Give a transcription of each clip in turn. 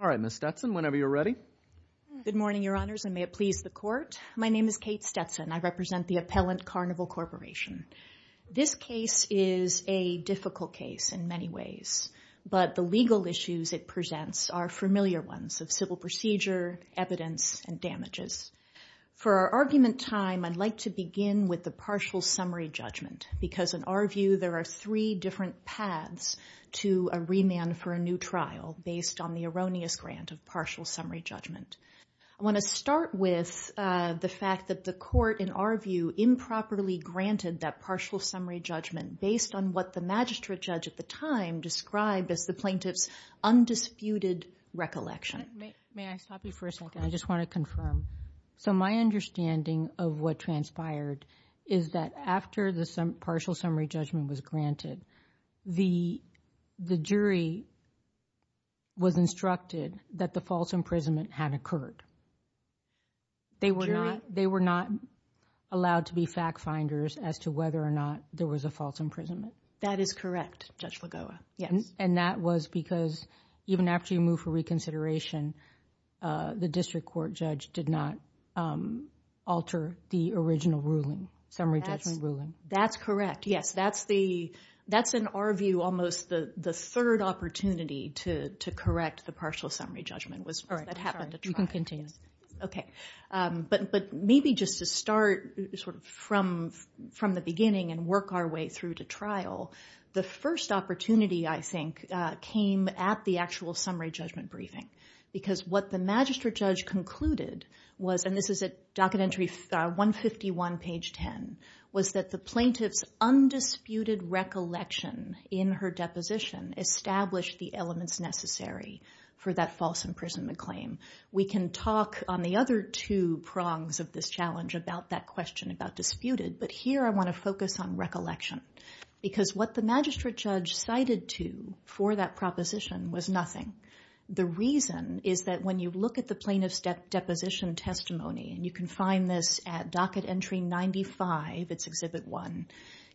All right, Ms. Stetson. Whenever you're ready. Good morning, Your Honors, and may it please the Court. My name is Kate Stetson. I represent the appellant Carnival Corporation. This case is a difficult case in many ways, but the legal issues it presents are familiar ones of civil procedure, evidence, and damages. For our argument time, I'd like to begin with the partial summary judgment, because in our view there are three different paths to a remand for a new trial based on the erroneous grant of partial summary judgment. I want to start with the fact that the Court, in our view, improperly granted that partial summary judgment based on what the magistrate judge at the time described as the plaintiff's undisputed recollection. May I stop you for a second? I just want to confirm. So my understanding of what transpired is that after the partial summary judgment was granted, the jury was instructed that the false imprisonment had occurred. They were not allowed to be fact-finders as to whether or not there was a false imprisonment. That is correct, Judge Lagoa. That was because even after you moved for reconsideration, the district court judge did not alter the original ruling, summary judgment ruling. That's correct. Yes, that's in our view almost the third opportunity to correct the partial summary judgment. That happened at trial. You can continue. Okay. But maybe just to start from the beginning and work our way through to trial, the first opportunity, I think, came at the actual summary judgment briefing, because what the magistrate judge concluded was, and this is at docket entry 151, page 10, was that the plaintiff's undisputed recollection in her deposition established the elements necessary for that false imprisonment claim. We can talk on the other two prongs of this challenge about that question about disputed, but here I want to focus on recollection, because what the magistrate judge cited to for that proposition was nothing. The reason is that when you look at the plaintiff's deposition testimony, and you can find this at docket entry 95, it's exhibit one,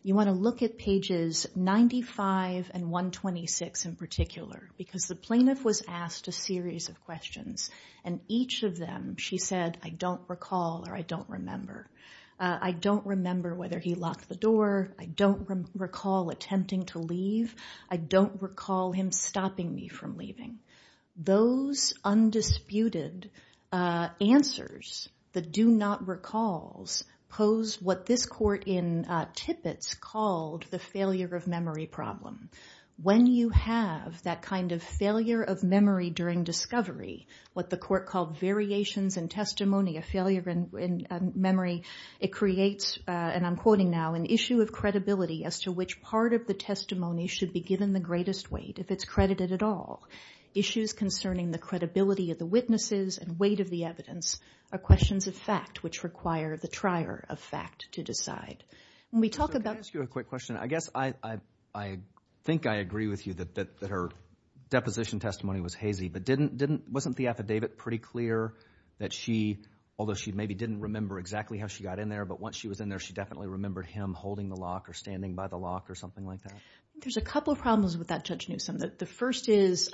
you want to look at pages 95 and 126 in particular, because the plaintiff was asked a series of questions, and each of them she said, I don't recall or I don't remember. I don't remember whether he locked the door. I don't recall attempting to leave. I don't recall him stopping me from leaving. Those undisputed answers, the do not recalls, pose what this court in Tippett's called the failure of memory problem. When you have that kind of failure of memory during discovery, what the court called variations in testimony, a failure in memory, it creates, and I'm quoting now, an issue of credibility as to which part of the testimony should be given the greatest weight if it's credited at all. Issues concerning the credibility of the witnesses and weight of the evidence are questions of fact which require the trier of fact to decide. We talk about- Can I ask you a quick question? I guess I think I agree with you that her deposition testimony was hazy, but wasn't the affidavit pretty clear that she, although she maybe didn't remember exactly how she got in there, but once she was in there, she definitely remembered him holding the lock or standing by the lock or something like that? There's a couple of problems with that, Judge Newsom. The first is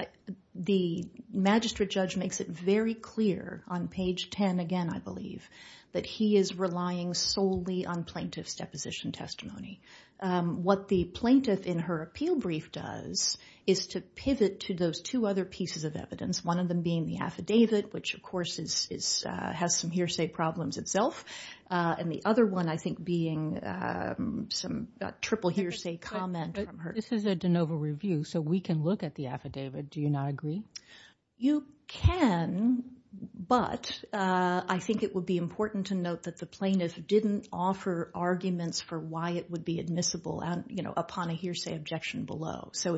the magistrate judge makes it very clear on page 10 again, I believe, that he is relying solely on plaintiff's deposition testimony. What the plaintiff in her appeal brief does is to pivot to those two other pieces of evidence, one of them being the affidavit, which of course has some hearsay problems itself, and the other one, I think, being some triple hearsay comment from her. This is a de novo review, so we can look at the affidavit, do you not agree? You can, but I think it would be important to note that the plaintiff didn't offer arguments for why it would be admissible upon a hearsay objection below, so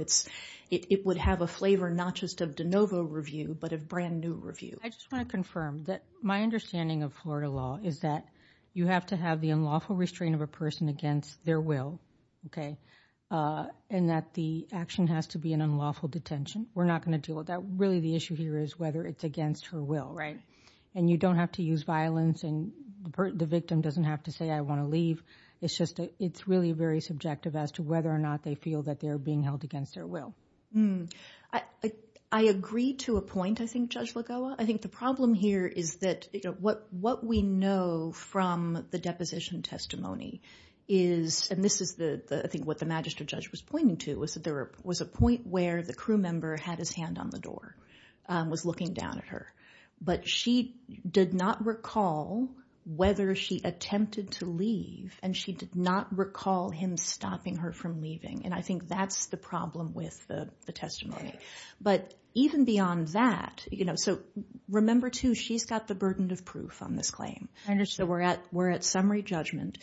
it would have a flavor not just of de novo review, but of brand new review. I just want to confirm that my understanding of Florida law is that you have to have the unlawful restraint of a person against their will, and that the action has to be an unlawful detention. We're not going to deal with that. Really, the issue here is whether it's against her will, and you don't have to use violence and the victim doesn't have to say, I want to leave. It's really very subjective as to whether or not they feel that they're being held against their will. I agree to a point, I think, Judge Lagoa. I think the problem here is that what we know from the deposition testimony is, and this is I think what the magistrate judge was pointing to, was that there was a point where the crew member had his hand on the door, was looking down at her, but she did not recall whether she attempted to leave, and she did not recall him stopping her from leaving. I think that's the problem with the testimony. But even beyond that, you know, so remember too, she's got the burden of proof on this claim. So we're at summary judgment.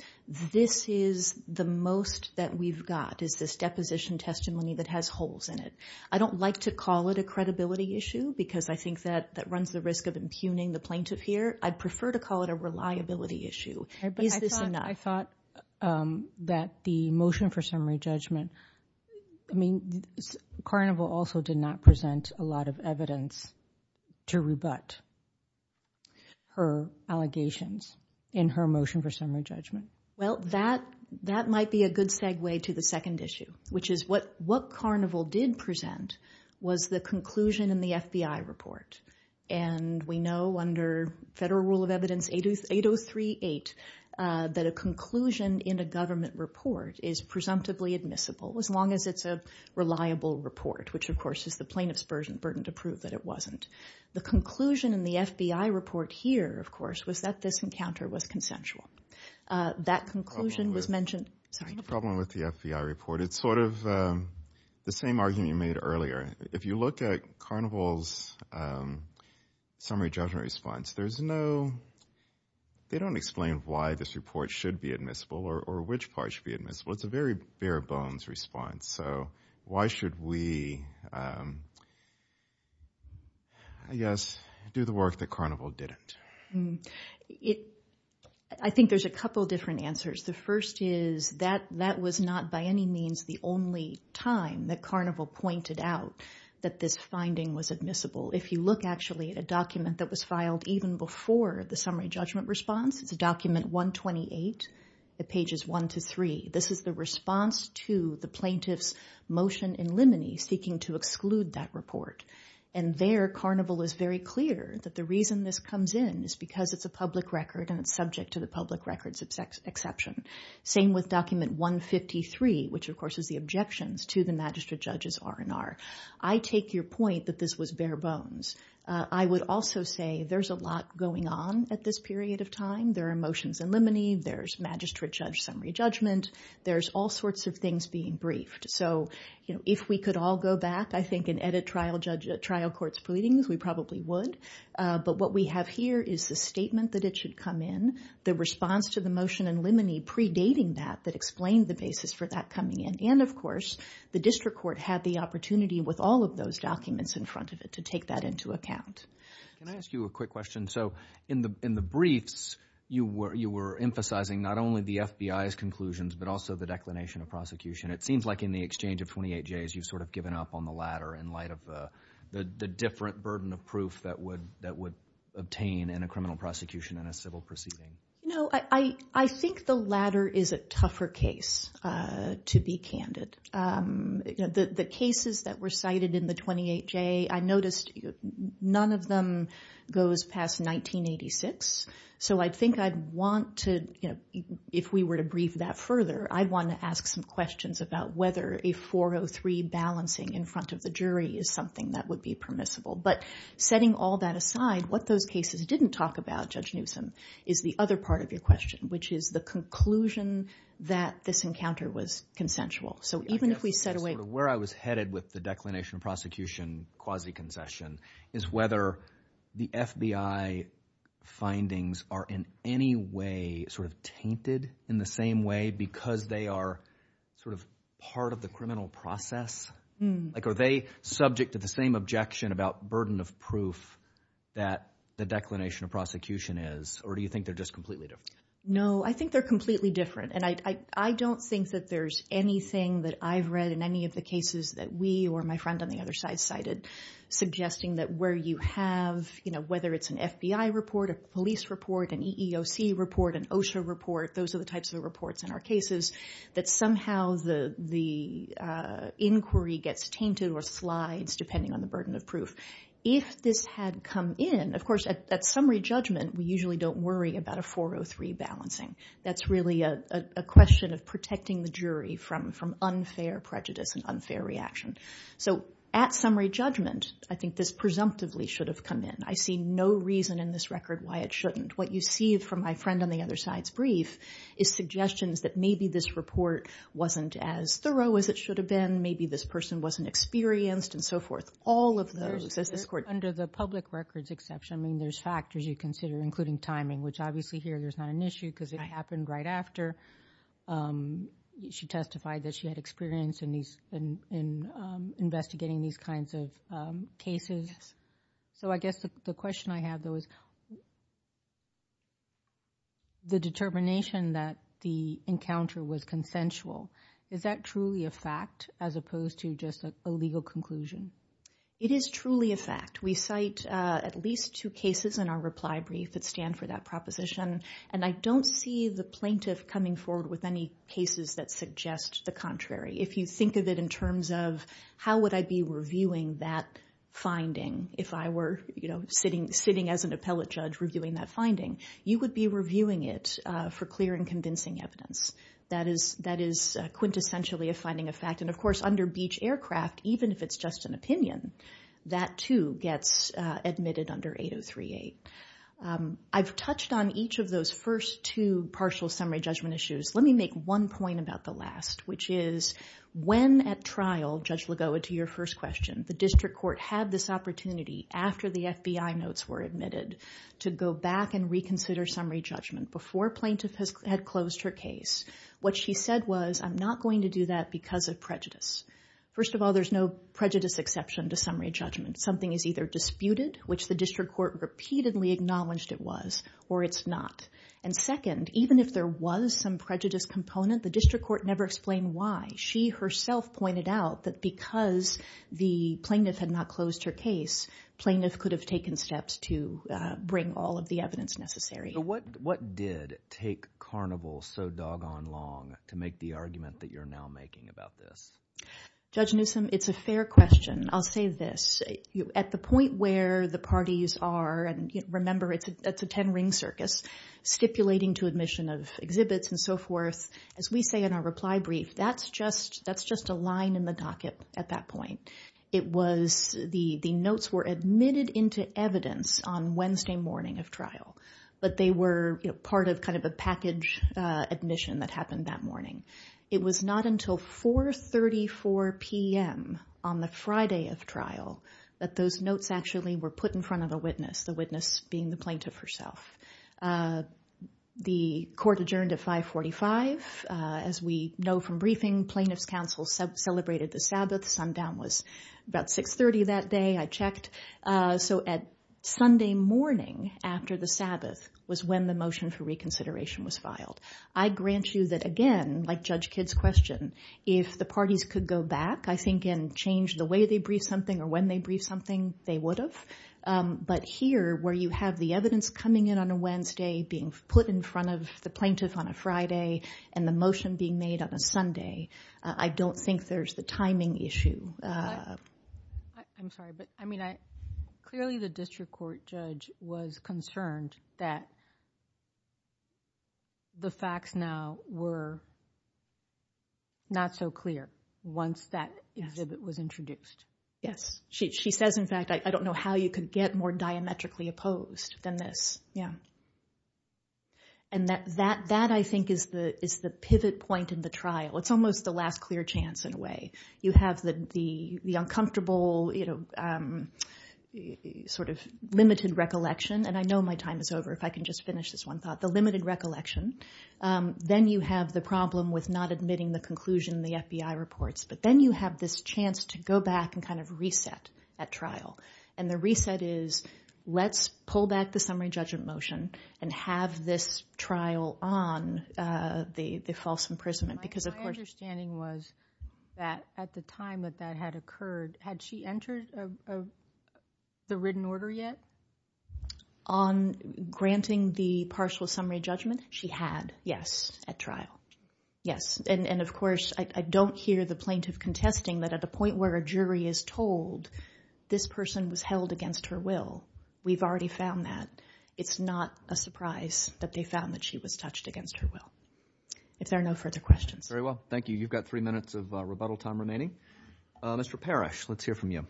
This is the most that we've got, is this deposition testimony that has holes in it. I don't like to call it a credibility issue, because I think that runs the risk of impugning the plaintiff here. I'd prefer to call it a reliability issue. Is this or not? I thought that the motion for summary judgment, I mean, Carnival also did not present a lot of evidence to rebut her allegations in her motion for summary judgment. Well, that might be a good segue to the second issue, which is what Carnival did present was the conclusion in the FBI report. And we know under federal rule of evidence 8038, that a conclusion in a government report is presumptively admissible, as long as it's a reliable report, which of course is the plaintiff's burden to prove that it wasn't. The conclusion in the FBI report here, of course, was that this encounter was consensual. That conclusion was mentioned. The problem with the FBI report, it's sort of the same argument you made earlier. If you look at Carnival's summary judgment response, there's no, they don't explain why this report should be admissible or which part should be admissible. It's a very bare bones response. So why should we, I guess, do the work that Carnival didn't? I think there's a couple different answers. The first is that that was not by any means the only time that Carnival pointed out that this finding was admissible. If you look actually at a document that was filed even before the summary judgment response, it's a document 128 at pages one to three. This is the response to the plaintiff's motion in limine seeking to exclude that report. And there, Carnival is very clear that the reason this comes in is because it's a public records exception, same with document 153, which, of course, is the objections to the magistrate judge's R&R. I take your point that this was bare bones. I would also say there's a lot going on at this period of time. There are motions in limine, there's magistrate judge summary judgment, there's all sorts of things being briefed. So, you know, if we could all go back, I think, and edit trial court's pleadings, we probably would. But what we have here is the statement that it should come in. The response to the motion in limine predating that that explained the basis for that coming in. And of course, the district court had the opportunity with all of those documents in front of it to take that into account. Can I ask you a quick question? So in the briefs, you were emphasizing not only the FBI's conclusions, but also the declination of prosecution. It seems like in the exchange of 28 days, you've sort of given up on the latter in light of the different burden of proof that would obtain in a criminal prosecution and a civil proceeding. No, I think the latter is a tougher case to be candid. The cases that were cited in the 28 day, I noticed none of them goes past 1986. So I think I'd want to, you know, if we were to brief that further, I'd want to ask some questions about whether a 403 balancing in front of the jury is something that would be permissible. But setting all that aside, what those cases didn't talk about Judge Newsom is the other part of your question, which is the conclusion that this encounter was consensual. So even if we set away where I was headed with the declination of prosecution, quasi concession is whether the FBI findings are in any way sort of tainted in the same way because they are sort of part of the criminal process. Like are they subject to the same objection about burden of proof that the declination of prosecution is? Or do you think they're just completely different? No, I think they're completely different. And I don't think that there's anything that I've read in any of the cases that we or my friend on the other side cited, suggesting that where you have, you know, whether it's an FBI report, a police report, an EEOC report, an OSHA report, those are the types of reports in our cases that somehow the inquiry gets tainted or slides depending on the burden of proof. If this had come in, of course, at summary judgment, we usually don't worry about a 403 balancing. That's really a question of protecting the jury from unfair prejudice and unfair reaction. So at summary judgment, I think this presumptively should have come in. I see no reason in this record why it shouldn't. What you see from my friend on the other side's brief is suggestions that maybe this report wasn't as thorough as it should have been. Maybe this person wasn't experienced and so forth. All of those, as this court. Under the public records exception, I mean, there's factors you consider, including timing, which obviously here there's not an issue because it happened right after she testified that she had experience in these in investigating these kinds of cases. So I guess the question I have, though, is. The determination that the encounter was consensual, is that truly a fact as opposed to just a legal conclusion? It is truly a fact we cite at least two cases in our reply brief that stand for that proposition, and I don't see the plaintiff coming forward with any cases that suggest the contrary. If you think of it in terms of how would I be reviewing that finding if I were sitting, sitting as an appellate judge reviewing that finding, you would be reviewing it for clear and convincing evidence. That is that is quintessentially a finding of fact. And of course, under Beach Aircraft, even if it's just an opinion, that too gets admitted under 8038. I've touched on each of those first two partial summary judgment issues. Let me make one point about the last, which is when at trial, Judge Lagoa, to your first question, the district court had this opportunity after the FBI notes were admitted to go back and reconsider summary judgment before plaintiff had closed her case. What she said was, I'm not going to do that because of prejudice. First of all, there's no prejudice exception to summary judgment. Something is either disputed, which the district court repeatedly acknowledged it was, or it's not. And second, even if there was some prejudice component, the district court never explained why. She herself pointed out that because the plaintiff had not closed her case, plaintiff could have taken steps to bring all of the evidence necessary. So what what did take Carnival so doggone long to make the argument that you're now making about this? Judge Newsom, it's a fair question. I'll say this at the point where the parties are. And remember, it's a ten ring circus stipulating to admission of exhibits and so forth. As we say in our reply brief, that's just that's just a line in the docket at that point. It was the the notes were admitted into evidence on Wednesday morning of trial, but they were part of kind of a package admission that happened that morning. It was not until four thirty four p.m. on the Friday of trial that those notes actually were put in front of a witness, the witness being the plaintiff herself. The court adjourned at five forty five. As we know from briefing, plaintiff's counsel celebrated the Sabbath. Sundown was about six thirty that day. I checked. So at Sunday morning after the Sabbath was when the motion for reconsideration was filed. I grant you that again, like Judge Kidd's question, if the parties could go back, I think and change the way they brief something or when they brief something, they would have. But here, where you have the evidence coming in on a Wednesday being put in front of the plaintiff on a Friday and the motion being made on a Sunday, I don't think there's the timing issue. I'm sorry, but I mean, I clearly the district court judge was concerned that. The facts now were. Not so clear once that exhibit was introduced. Yes, she says, in fact, I don't know how you could get more diametrically opposed than this. Yeah. And that that that I think is the is the pivot point in the trial. It's almost the last clear chance in a way. You have the the the uncomfortable, you know, sort of limited recollection. And I know my time is over. If I can just finish this one thought, the limited recollection. Then you have the problem with not admitting the conclusion in the FBI reports. But then you have this chance to go back and kind of reset at trial. And the reset is let's pull back the summary judgment motion and have this trial on the false imprisonment. Because, of course, standing was that at the time that that had occurred, had she entered the written order yet on granting the partial summary judgment? She had. Yes. At trial. Yes. And of course, I don't hear the plaintiff contesting that at the point where a jury is told this person was held against her will. We've already found that it's not a surprise that they found that she was touched against her will. If there are no further questions. Very well. Thank you. You've got three minutes of rebuttal time remaining. Mr. Parrish, let's hear from you.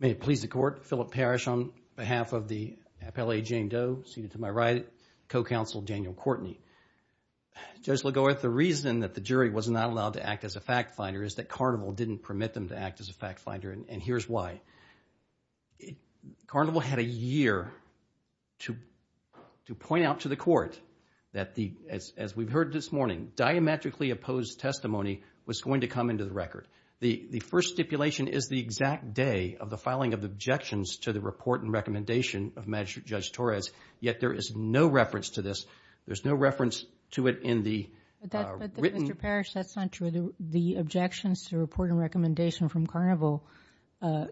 May it please the court. Philip Parrish on behalf of the appellee Jane Doe, seated to my right, co-counsel Daniel Courtney. Judge LaGore, the reason that the jury was not allowed to act as a fact finder is that Carnival didn't permit them to act as a fact finder. And here's why. Carnival had a year to point out to the court that the, as we've heard this morning, diametrically opposed testimony was going to come into the record. The first stipulation is the exact day of the filing of the objections to the report and recommendation of Magistrate Judge Torres. Yet there is no reference to this. There's no reference to it in the written. Mr. Parrish, that's not true. The objections to report and recommendation from Carnival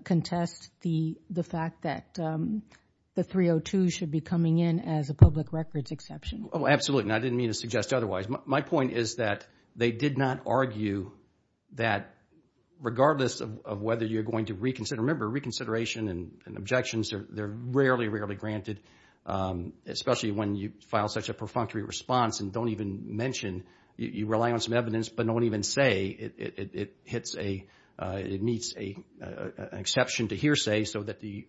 contest the fact that the 302 should be coming in as a public records exception. Oh, absolutely. And I didn't mean to suggest otherwise. My point is that they did not argue that regardless of whether you're going to reconsider, remember reconsideration and objections are rarely, rarely granted, especially when you file such a perfunctory response and don't even mention, you rely on some evidence, but don't even say it hits a, it meets an exception to hearsay so that the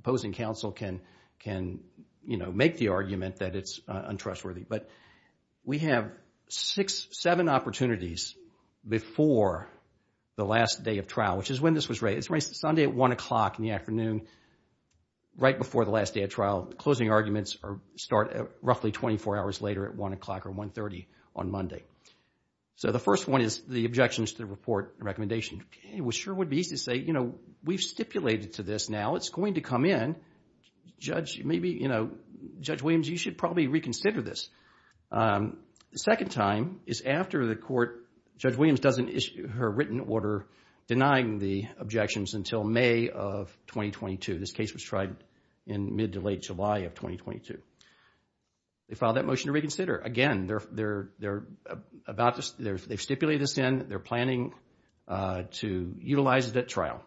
opposing counsel can, can, you know, make the argument that it's untrustworthy. But we have six, seven opportunities before the last day of trial, which is when this was raised. It's raised Sunday at 1 o'clock in the afternoon, right before the last day of trial. Closing arguments start roughly 24 hours later at 1 o'clock or 1.30 on Monday. So the first one is the objections to the report and recommendation. It sure would be easy to say, you know, we've stipulated to this now. It's going to come in. Judge, maybe, you know, Judge Williams, you should probably reconsider this. The second time is after the court, Judge Williams doesn't issue her written order denying the objections until May of 2022. This case was tried in mid to late July of 2022. They filed that motion to reconsider. Again, they're, they're, they're about to, they've stipulated this in. They're planning to utilize it at trial.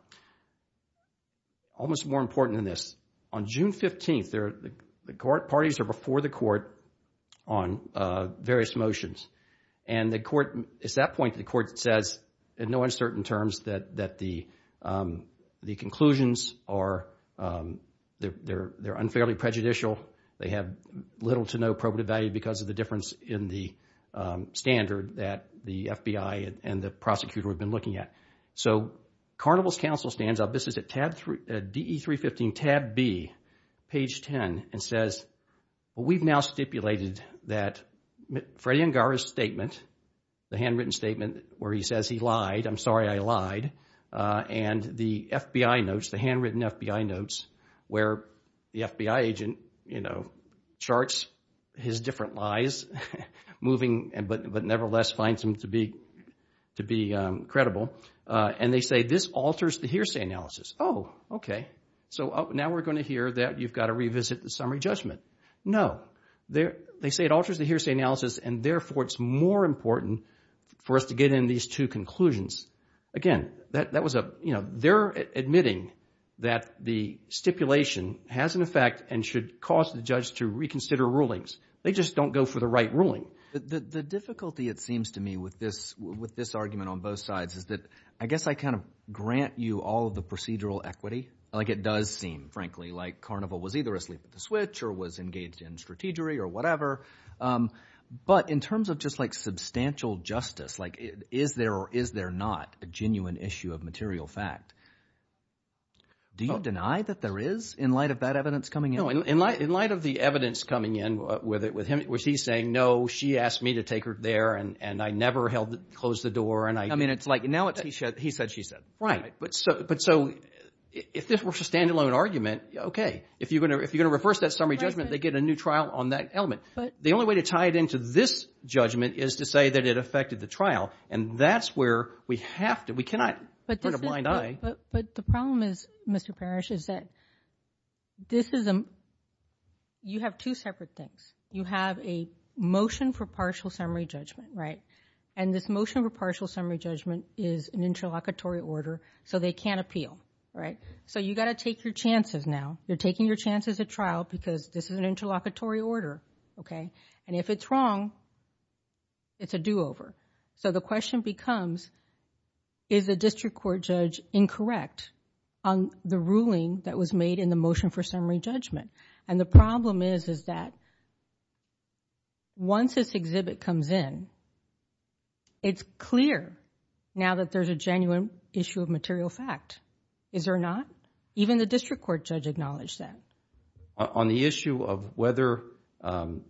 Almost more important than this, on June 15th, the parties are before the court on various motions. And the court, at that point, the court says in no uncertain terms that, that the, the conclusions are, they're, they're, they're unfairly prejudicial. They have little to no probative value because of the difference in the standard that the FBI and the prosecutor have been looking at. So, Carnival's counsel stands up, this is at tab 3, DE 315 tab B, page 10, and says, we've now stipulated that Freddie Angara's statement, the handwritten statement where he says he lied, I'm sorry I lied. And the FBI notes, the handwritten FBI notes where the FBI agent, you know, charts his different lies, moving, but, but nevertheless finds them to be, to be credible. And they say this alters the hearsay analysis. Oh, okay. So now we're going to hear that you've got to revisit the summary judgment. No, they're, they say it alters the hearsay analysis and therefore it's more important for us to get in these two conclusions. Again, that, that was a, you know, they're admitting that the stipulation has an effect and should cause the judge to reconsider rulings. They just don't go for the right ruling. The, the, the difficulty it seems to me with this, with this argument on both sides is that, I guess I kind of grant you all of the procedural equity. Like it does seem, frankly, like Carnival was either asleep at the switch or was engaged in strategy or whatever. But in terms of just like substantial justice, like is there, or is there not? A genuine issue of material fact. Do you deny that there is in light of that evidence coming in? No, in light, in light of the evidence coming in with it, with him, which he's saying, no, she asked me to take her there and, and I never held, closed the door. And I, I mean, it's like now it's he said, he said, she said, right. But so, but so if this were a standalone argument, okay. If you're going to, if you're going to reverse that summary judgment, they get a new trial on that element. But the only way to tie it into this judgment is to say that it affected the trial. And that's where we have to, we cannot. But this is, but the problem is, Mr. Parrish, is that this is a, you have two separate things. You have a motion for partial summary judgment, right? And this motion for partial summary judgment is an interlocutory order. So they can't appeal, right? So you got to take your chances now. You're taking your chances at trial because this is an interlocutory order. Okay. And if it's wrong, it's a do over. So the question becomes, is the district court judge incorrect on the ruling that was made in the motion for summary judgment? And the problem is, is that once this exhibit comes in, it's clear now that there's a genuine issue of material fact. Is there not? Even the district court judge acknowledged that. On the issue of whether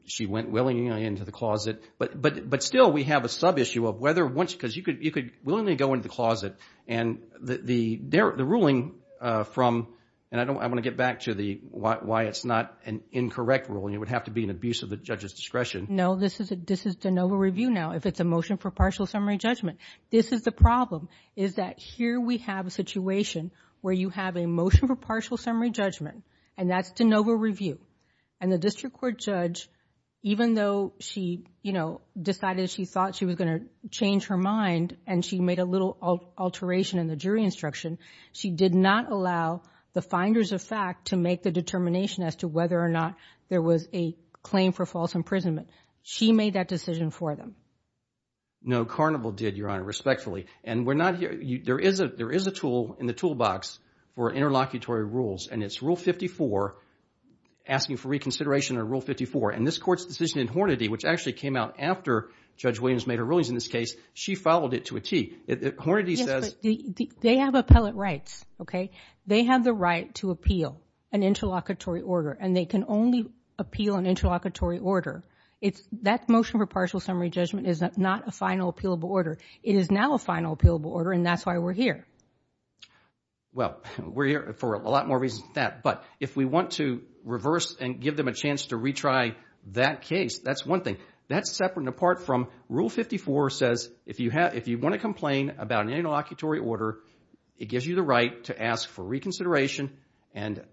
she went willingly into the closet. But, but, but still we have a sub-issue of whether once, because you could, you could willingly go into the closet and the, the, the ruling from, and I don't, I want to get back to the why, why it's not an incorrect rule and it would have to be an abuse of the judge's discretion. No, this is a, this is de novo review now. If it's a motion for partial summary judgment, this is the problem is that here we have a situation where you have a motion for partial summary judgment and that's de novo review. And the district court judge, even though she, you know, decided she thought she was going to change her mind and she made a little alteration in the jury instruction, she did not allow the finders of fact to make the determination as to whether or not there was a claim for false imprisonment. She made that decision for them. No, Carnival did, Your Honor, respectfully. And we're not here, there is a, there is a tool in the toolbox for interlocutory rules and it's rule 54, asking for reconsideration on rule 54. And this court's decision in Hornady, which actually came out after Judge Williams made her rulings in this case, she followed it to a tee. It, it, Hornady says. They have appellate rights, okay? They have the right to appeal an interlocutory order and they can only appeal an interlocutory order. It's that motion for partial summary judgment is not a final appealable order. It is now a final appealable order. And that's why we're here. Well, we're here for a lot more reasons than that, but if we want to reverse and give them a chance to retry that case, that's one thing that's separate and apart from rule 54 says, if you have, if you want to complain about an interlocutory order, it gives you the right to ask for reconsideration. And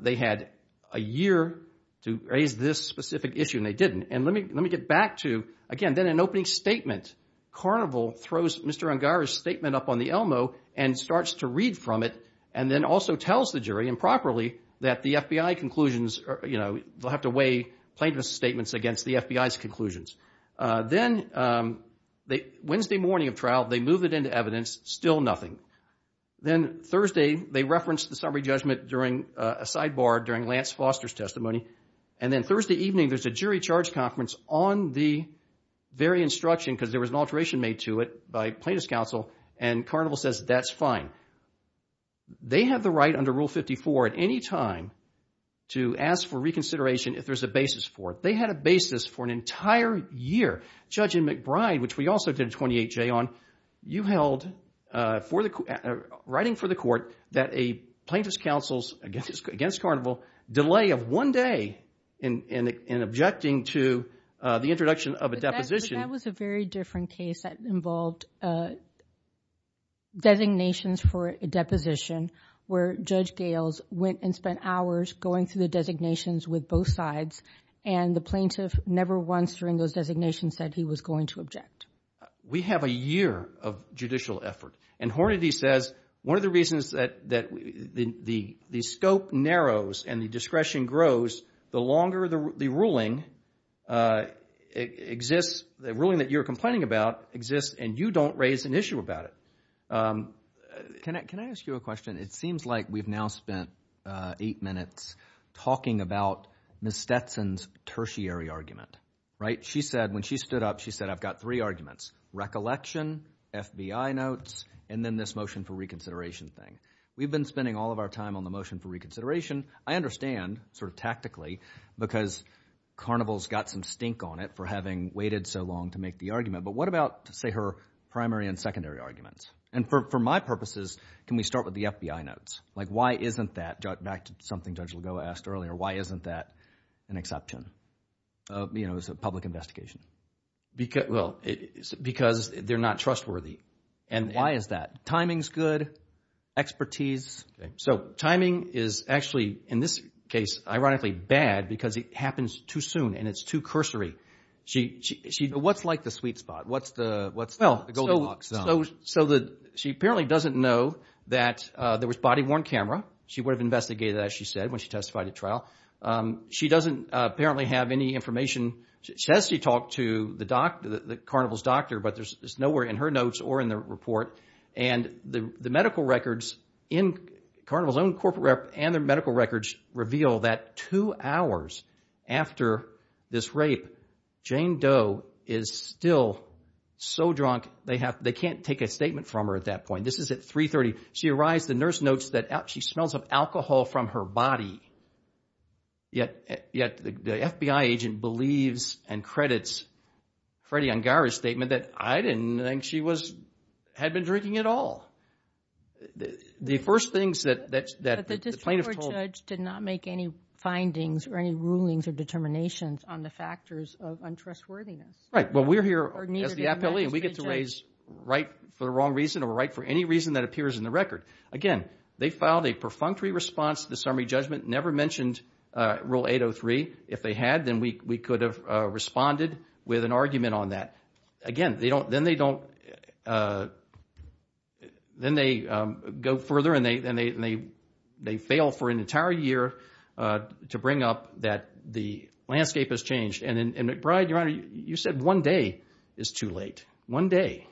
they had a year to raise this specific issue and they didn't. And let me, let me get back to, again, then an opening statement. Carnival throws Mr. Ungar's statement up on the Elmo and starts to read from it and then also tells the jury improperly that the FBI conclusions are, you know, they'll have to weigh plaintiff's statements against the FBI's conclusions. Then they, Wednesday morning of trial, they move it into evidence, still nothing. Then Thursday, they referenced the summary judgment during a sidebar during Lance Foster's testimony. And then Thursday evening, there's a jury charge conference on the very instruction, because there was an alteration made to it by plaintiff's counsel and Carnival says, that's fine. They have the right under rule 54 at any time to ask for reconsideration if there's a basis for it. They had a basis for an entire year. Judge McBride, which we also did a 28-J on, you held for the, writing for the court that a plaintiff's counsel's, against Carnival, delay of one day in, in, in objecting to the introduction of a deposition. That was a very different case that involved, uh, designations for a deposition where Judge Gales went and spent hours going through the designations with both sides and the plaintiff never once during those designations said he was going to object. We have a year of judicial effort. And Hornady says, one of the reasons that, that the, the, the scope narrows and the discretion grows, the longer the, the ruling, uh, exists, the ruling that you're complaining about exists and you don't raise an issue about it. Um, Can I, can I ask you a question? It seems like we've now spent, uh, eight minutes talking about Ms. Stetson's tertiary argument. Right? She said, when she stood up, she said, I've got three arguments, recollection, FBI notes, and then this motion for reconsideration thing. We've been spending all of our time on the motion for reconsideration. I understand sort of tactically because Carnival's got some stink on it for having waited so long to make the argument, but what about say her primary and secondary arguments? And for, for my purposes, can we start with the FBI notes? Like why isn't that, back to something Judge Lagoa asked earlier, why isn't that an exception of, you know, as a public investigation? Because, well, because they're not trustworthy. And why is that? Timing's good, expertise. So timing is actually, in this case, ironically bad because it happens too soon and it's too cursory. She, she, what's like the sweet spot? What's the, what's the golden box? So, so the, she apparently doesn't know that, uh, there was body worn camera. She would have investigated that, as she said, when she testified at trial. Um, she doesn't apparently have any information. She says she talked to the doc, the Carnival's doctor, but there's nowhere in her notes or in the report. And the, the medical records in Carnival's own corporate rep and their medical records reveal that two hours after this rape, Jane Doe is still so drunk. They have, they can't take a statement from her at that point. This is at 3.30. She arrives, the nurse notes that she smells of alcohol from her body. Yet, yet the FBI agent believes and credits Freddie Ungar's statement that I didn't think she was, had been drinking at all. The first things that, that, that the plaintiff told... But the district court judge did not make any findings or any rulings or determinations on the factors of untrustworthiness. Right. Well, we're here as the appellee and we get to raise right for the wrong reason or right for any reason that appears in the record. Again, they filed a perfunctory response to the summary judgment. Never mentioned, uh, rule 803. If they had, then we, we could have, uh, responded with an argument on that. Again, they don't, then they don't, uh, then they, um, go further and they, then they, they fail for an entire year, uh, to bring up that the landscape has changed and McBride, Your Honor, you said one day is too late, one day.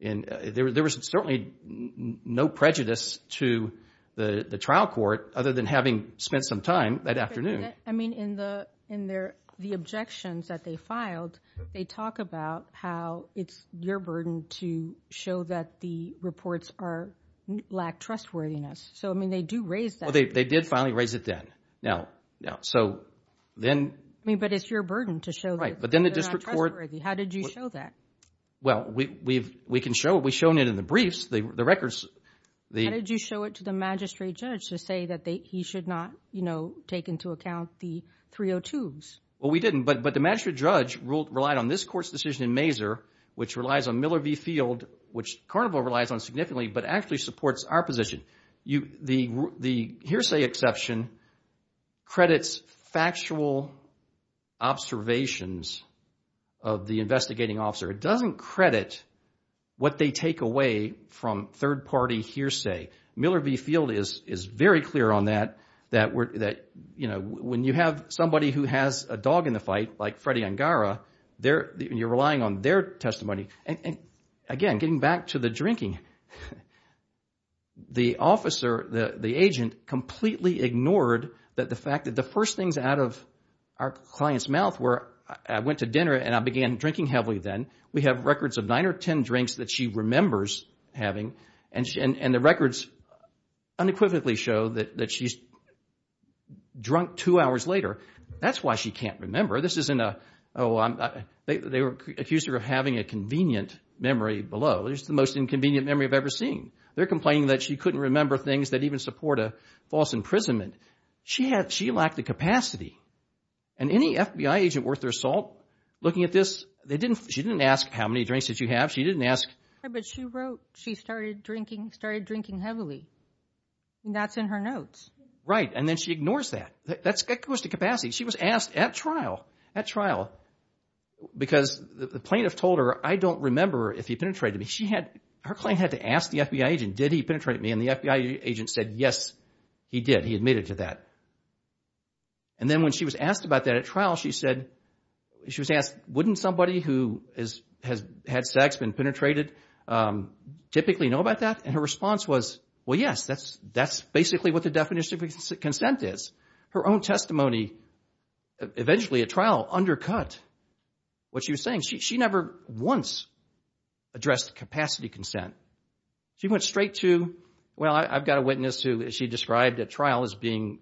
And there, there was certainly no prejudice to the trial court other than having spent some time that afternoon. I mean, in the, in their, the objections that they filed, they talk about how it's your burden to show that the reports are, lack trustworthiness. So, I mean, they do raise that. Well, they, they did finally raise it then. Now, now, so then... I mean, but it's your burden to show that they're not trustworthy. How did you show that? Well, we, we've, we can show it. We've shown it in the briefs, the records, the... How did you show it to the magistrate judge to say that they, he should not, you know, take into account the 302s? Well, we didn't, but, but the magistrate judge ruled, relied on this court's decision in Mazur, which relies on Miller v. Field, which Carnival relies on significantly, but actually supports our position, you, the, the hearsay exception credits factual observations of the investigating officer. It doesn't credit what they take away from third party hearsay. Miller v. Field is, is very clear on that, that we're, that, you know, when you have somebody who has a dog in the fight, like Freddie Angara, they're, you're relying on their testimony and, and again, getting back to the drinking, the officer, the, the agent completely ignored that the fact that the first things out of our client's mouth were, I went to dinner and I began drinking heavily then, we have records of nine or 10 drinks that she remembers having. And, and, and the records unequivocally show that, that she's drunk two hours later. That's why she can't remember. This isn't a, oh, I'm, they, they were accused of having a convenient memory below. This is the most inconvenient memory I've ever seen. They're complaining that she couldn't remember things that even support a false imprisonment. She had, she lacked the capacity. And any FBI agent worth their salt looking at this, they didn't, she didn't ask how many drinks did you have? She didn't ask. But she wrote, she started drinking, started drinking heavily. And that's in her notes. Right. And then she ignores that. That's, that goes to capacity. She was asked at trial, at trial, because the plaintiff told her, I don't remember if he penetrated me. She had, her client had to ask the FBI agent, did he penetrate me? And the FBI agent said, yes, he did. He admitted to that. And then when she was asked about that at trial, she said, she was asked, wouldn't somebody who has had sex, been penetrated, typically know about that? And her response was, well, yes, that's, that's basically what the definition of consent is. Her own testimony, eventually at trial, undercut what she was saying. She, she never once addressed capacity consent. She went straight to, well, I've got a witness who she described at trial as being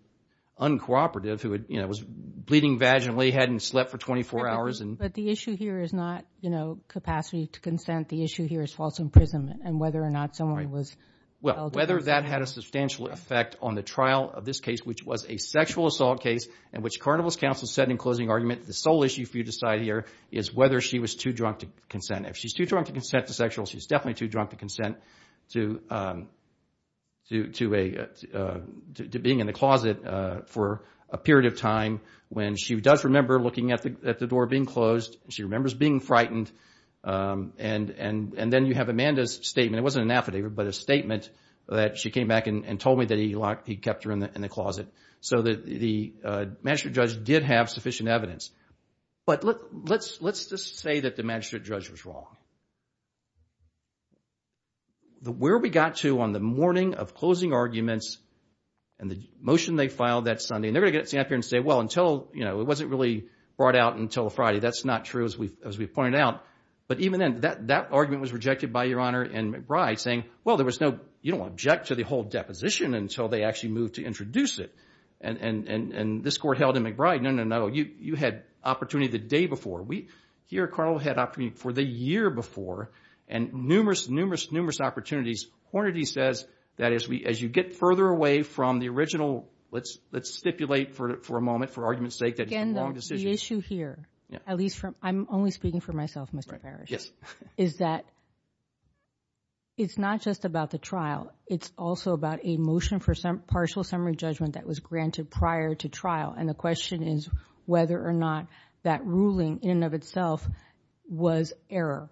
uncooperative, who, you know, was bleeding vaginally, hadn't slept for 24 hours. But the issue here is not, you know, capacity to consent. The issue here is false imprisonment and whether or not someone was. Well, whether that had a substantial effect on the trial of this case, which was a sexual assault case and which Carnival's counsel said in closing argument, the sole issue for you to decide here is whether she was too drunk to consent. If she's too drunk to consent to sexual, she's definitely too drunk to consent to, to, to a, to, to being in the closet for a period of time when she does remember looking at the, at the door being closed and she remembers being frightened and, and, and then you have Amanda's statement, it wasn't an affidavit, but a statement that she came back and told me that he locked, he kept her in the, in the closet. So the, the magistrate judge did have sufficient evidence. But let, let's, let's just say that the magistrate judge was wrong. The, where we got to on the morning of closing arguments and the motion they filed that Sunday, and they're going to get up here and say, well, until, you know, it wasn't really brought out until Friday. That's not true. As we've, as we've pointed out, but even then that, that argument was rejected by Your Honor and McBride saying, well, there was no, you don't object to the whole deposition until they actually moved to introduce it. And, and, and, and this court held in McBride, no, no, no. You, you had opportunity the day before. We, here, Carnival had opportunity for the year before and numerous, numerous, numerous opportunities, Hornady says that as we, as you get further away from the original, let's, let's stipulate for, for a moment, for argument's sake, that it's a wrong decision. Again, the issue here, at least from, I'm only speaking for myself, Mr. Parrish, is that it's not just about the trial. It's also about a motion for some partial summary judgment that was granted prior to trial. And the question is whether or not that ruling in and of itself was error.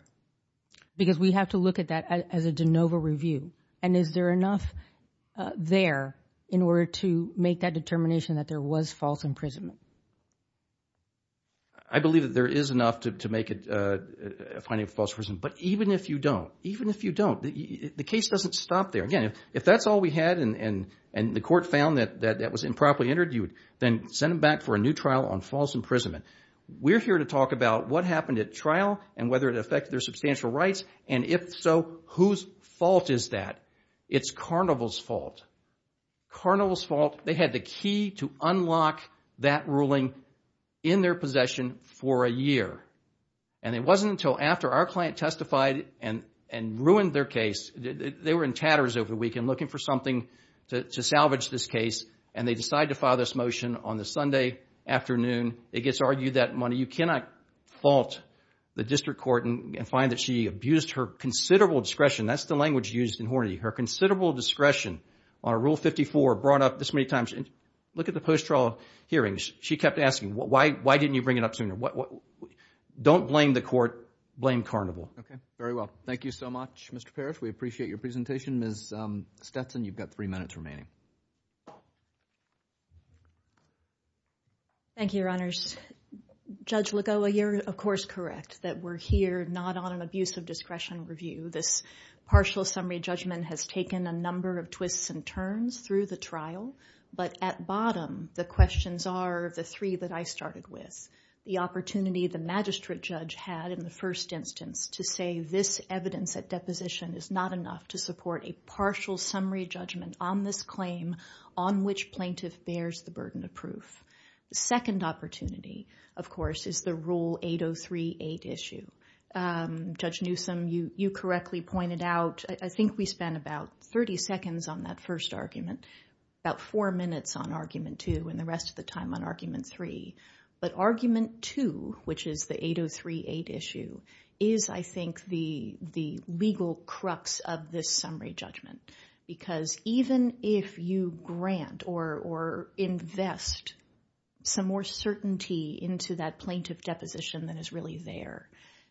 Because we have to look at that as a de novo review. And is there enough there in order to make that determination that there was false imprisonment? I believe that there is enough to, to make it a finding of false imprisonment. But even if you don't, even if you don't, the, the case doesn't stop there. Again, if that's all we had and, and, and the court found that, that, that was improperly entered, you would then send them back for a new trial on false imprisonment. We're here to talk about what happened at trial and whether it affected their substantial rights. And if so, whose fault is that? It's Carnival's fault. Carnival's fault. They had the key to unlock that ruling in their possession for a year. And it wasn't until after our client testified and, and ruined their case. They were in tatters over the weekend looking for something to, to salvage this case and they decided to file this motion on the Sunday afternoon. It gets argued that money, you cannot fault the district court and find that she abused her considerable discretion. That's the language used in Hornady. Her considerable discretion on Rule 54 brought up this many times. Look at the post-trial hearings. She kept asking, why, why didn't you bring it up sooner? What, what, don't blame the court, blame Carnival. Okay. Very well. Thank you so much, Mr. Parrish. We appreciate your presentation. Ms. Stetson, you've got three minutes remaining. Thank you, Your Honors. Judge Lagoa, you're of course correct that we're here not on an abuse of discretion review. This partial summary judgment has taken a number of twists and turns through the trial, but at bottom, the questions are the three that I started with, the opportunity the magistrate judge had in the first instance to say this evidence at deposition is not enough to support a partial summary judgment on this claim on which plaintiff bears the burden of proof. The second opportunity of course, is the Rule 8038 issue. Judge Newsome, you correctly pointed out, I think we spent about 30 seconds on that first argument, about four minutes on argument two and the rest of the time on argument three, but argument two, which is the 8038 issue is I think the, the legal crux of this summary judgment, because even if you grant or, or invest some more certainty into that plaintiff deposition that is really there,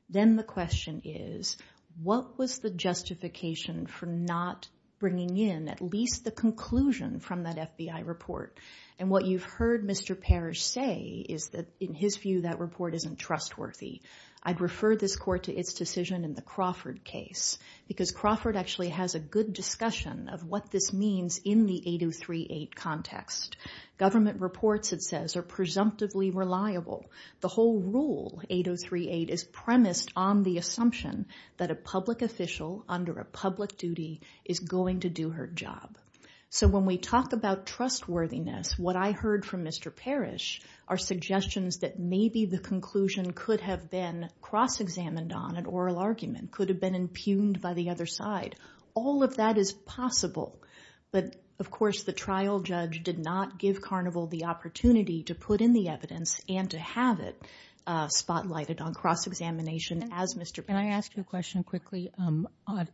then the question is, what was the justification for not bringing in at least the conclusion from that FBI report? And what you've heard Mr. Parrish say is that in his view, that report isn't trustworthy. I'd refer this court to its decision in the Crawford case, because Crawford actually has a good discussion of what this means in the 8038 context. Government reports it says are presumptively reliable. The whole Rule 8038 is premised on the assumption that a public official under a public duty is going to do her job. So when we talk about trustworthiness, what I heard from Mr. Parrish are suggestions that maybe the conclusion could have been cross-examined on an oral argument, could have been impugned by the other side. All of that is possible, but of course the trial judge did not give Carnival the opportunity to put in the evidence and to have it spotlighted on cross-examination as Mr. Parrish. Can I ask you a question quickly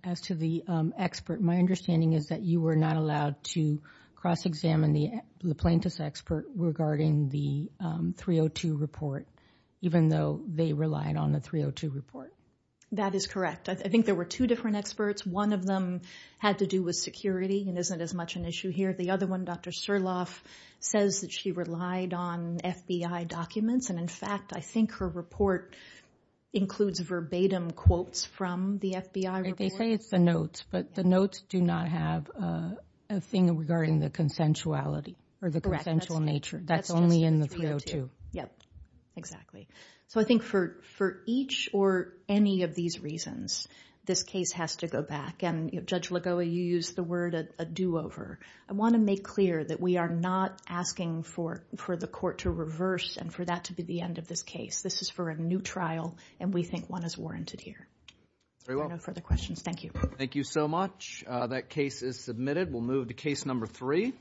as to the expert? My understanding is that you were not allowed to cross-examine the plaintiff's expert regarding the 302 report, even though they relied on the 302 report. That is correct. I think there were two different experts. One of them had to do with security and isn't as much an issue here. The other one, Dr. Surloff, says that she relied on FBI documents. And in fact, I think her report includes verbatim quotes from the FBI report. They say it's the notes, but the notes do not have a thing regarding the consensuality or the consensual nature. That's only in the 302. Yeah, exactly. So I think for each or any of these reasons, this case has to go back. And Judge Lagoa, you used the word a do-over. I want to make clear that we are not asking for the court to reverse and for that to be the end of this case. This is for a new trial, and we think one is warranted here. Very well. No further questions. Thank you. Thank you so much. That case is submitted. We'll move to case number three.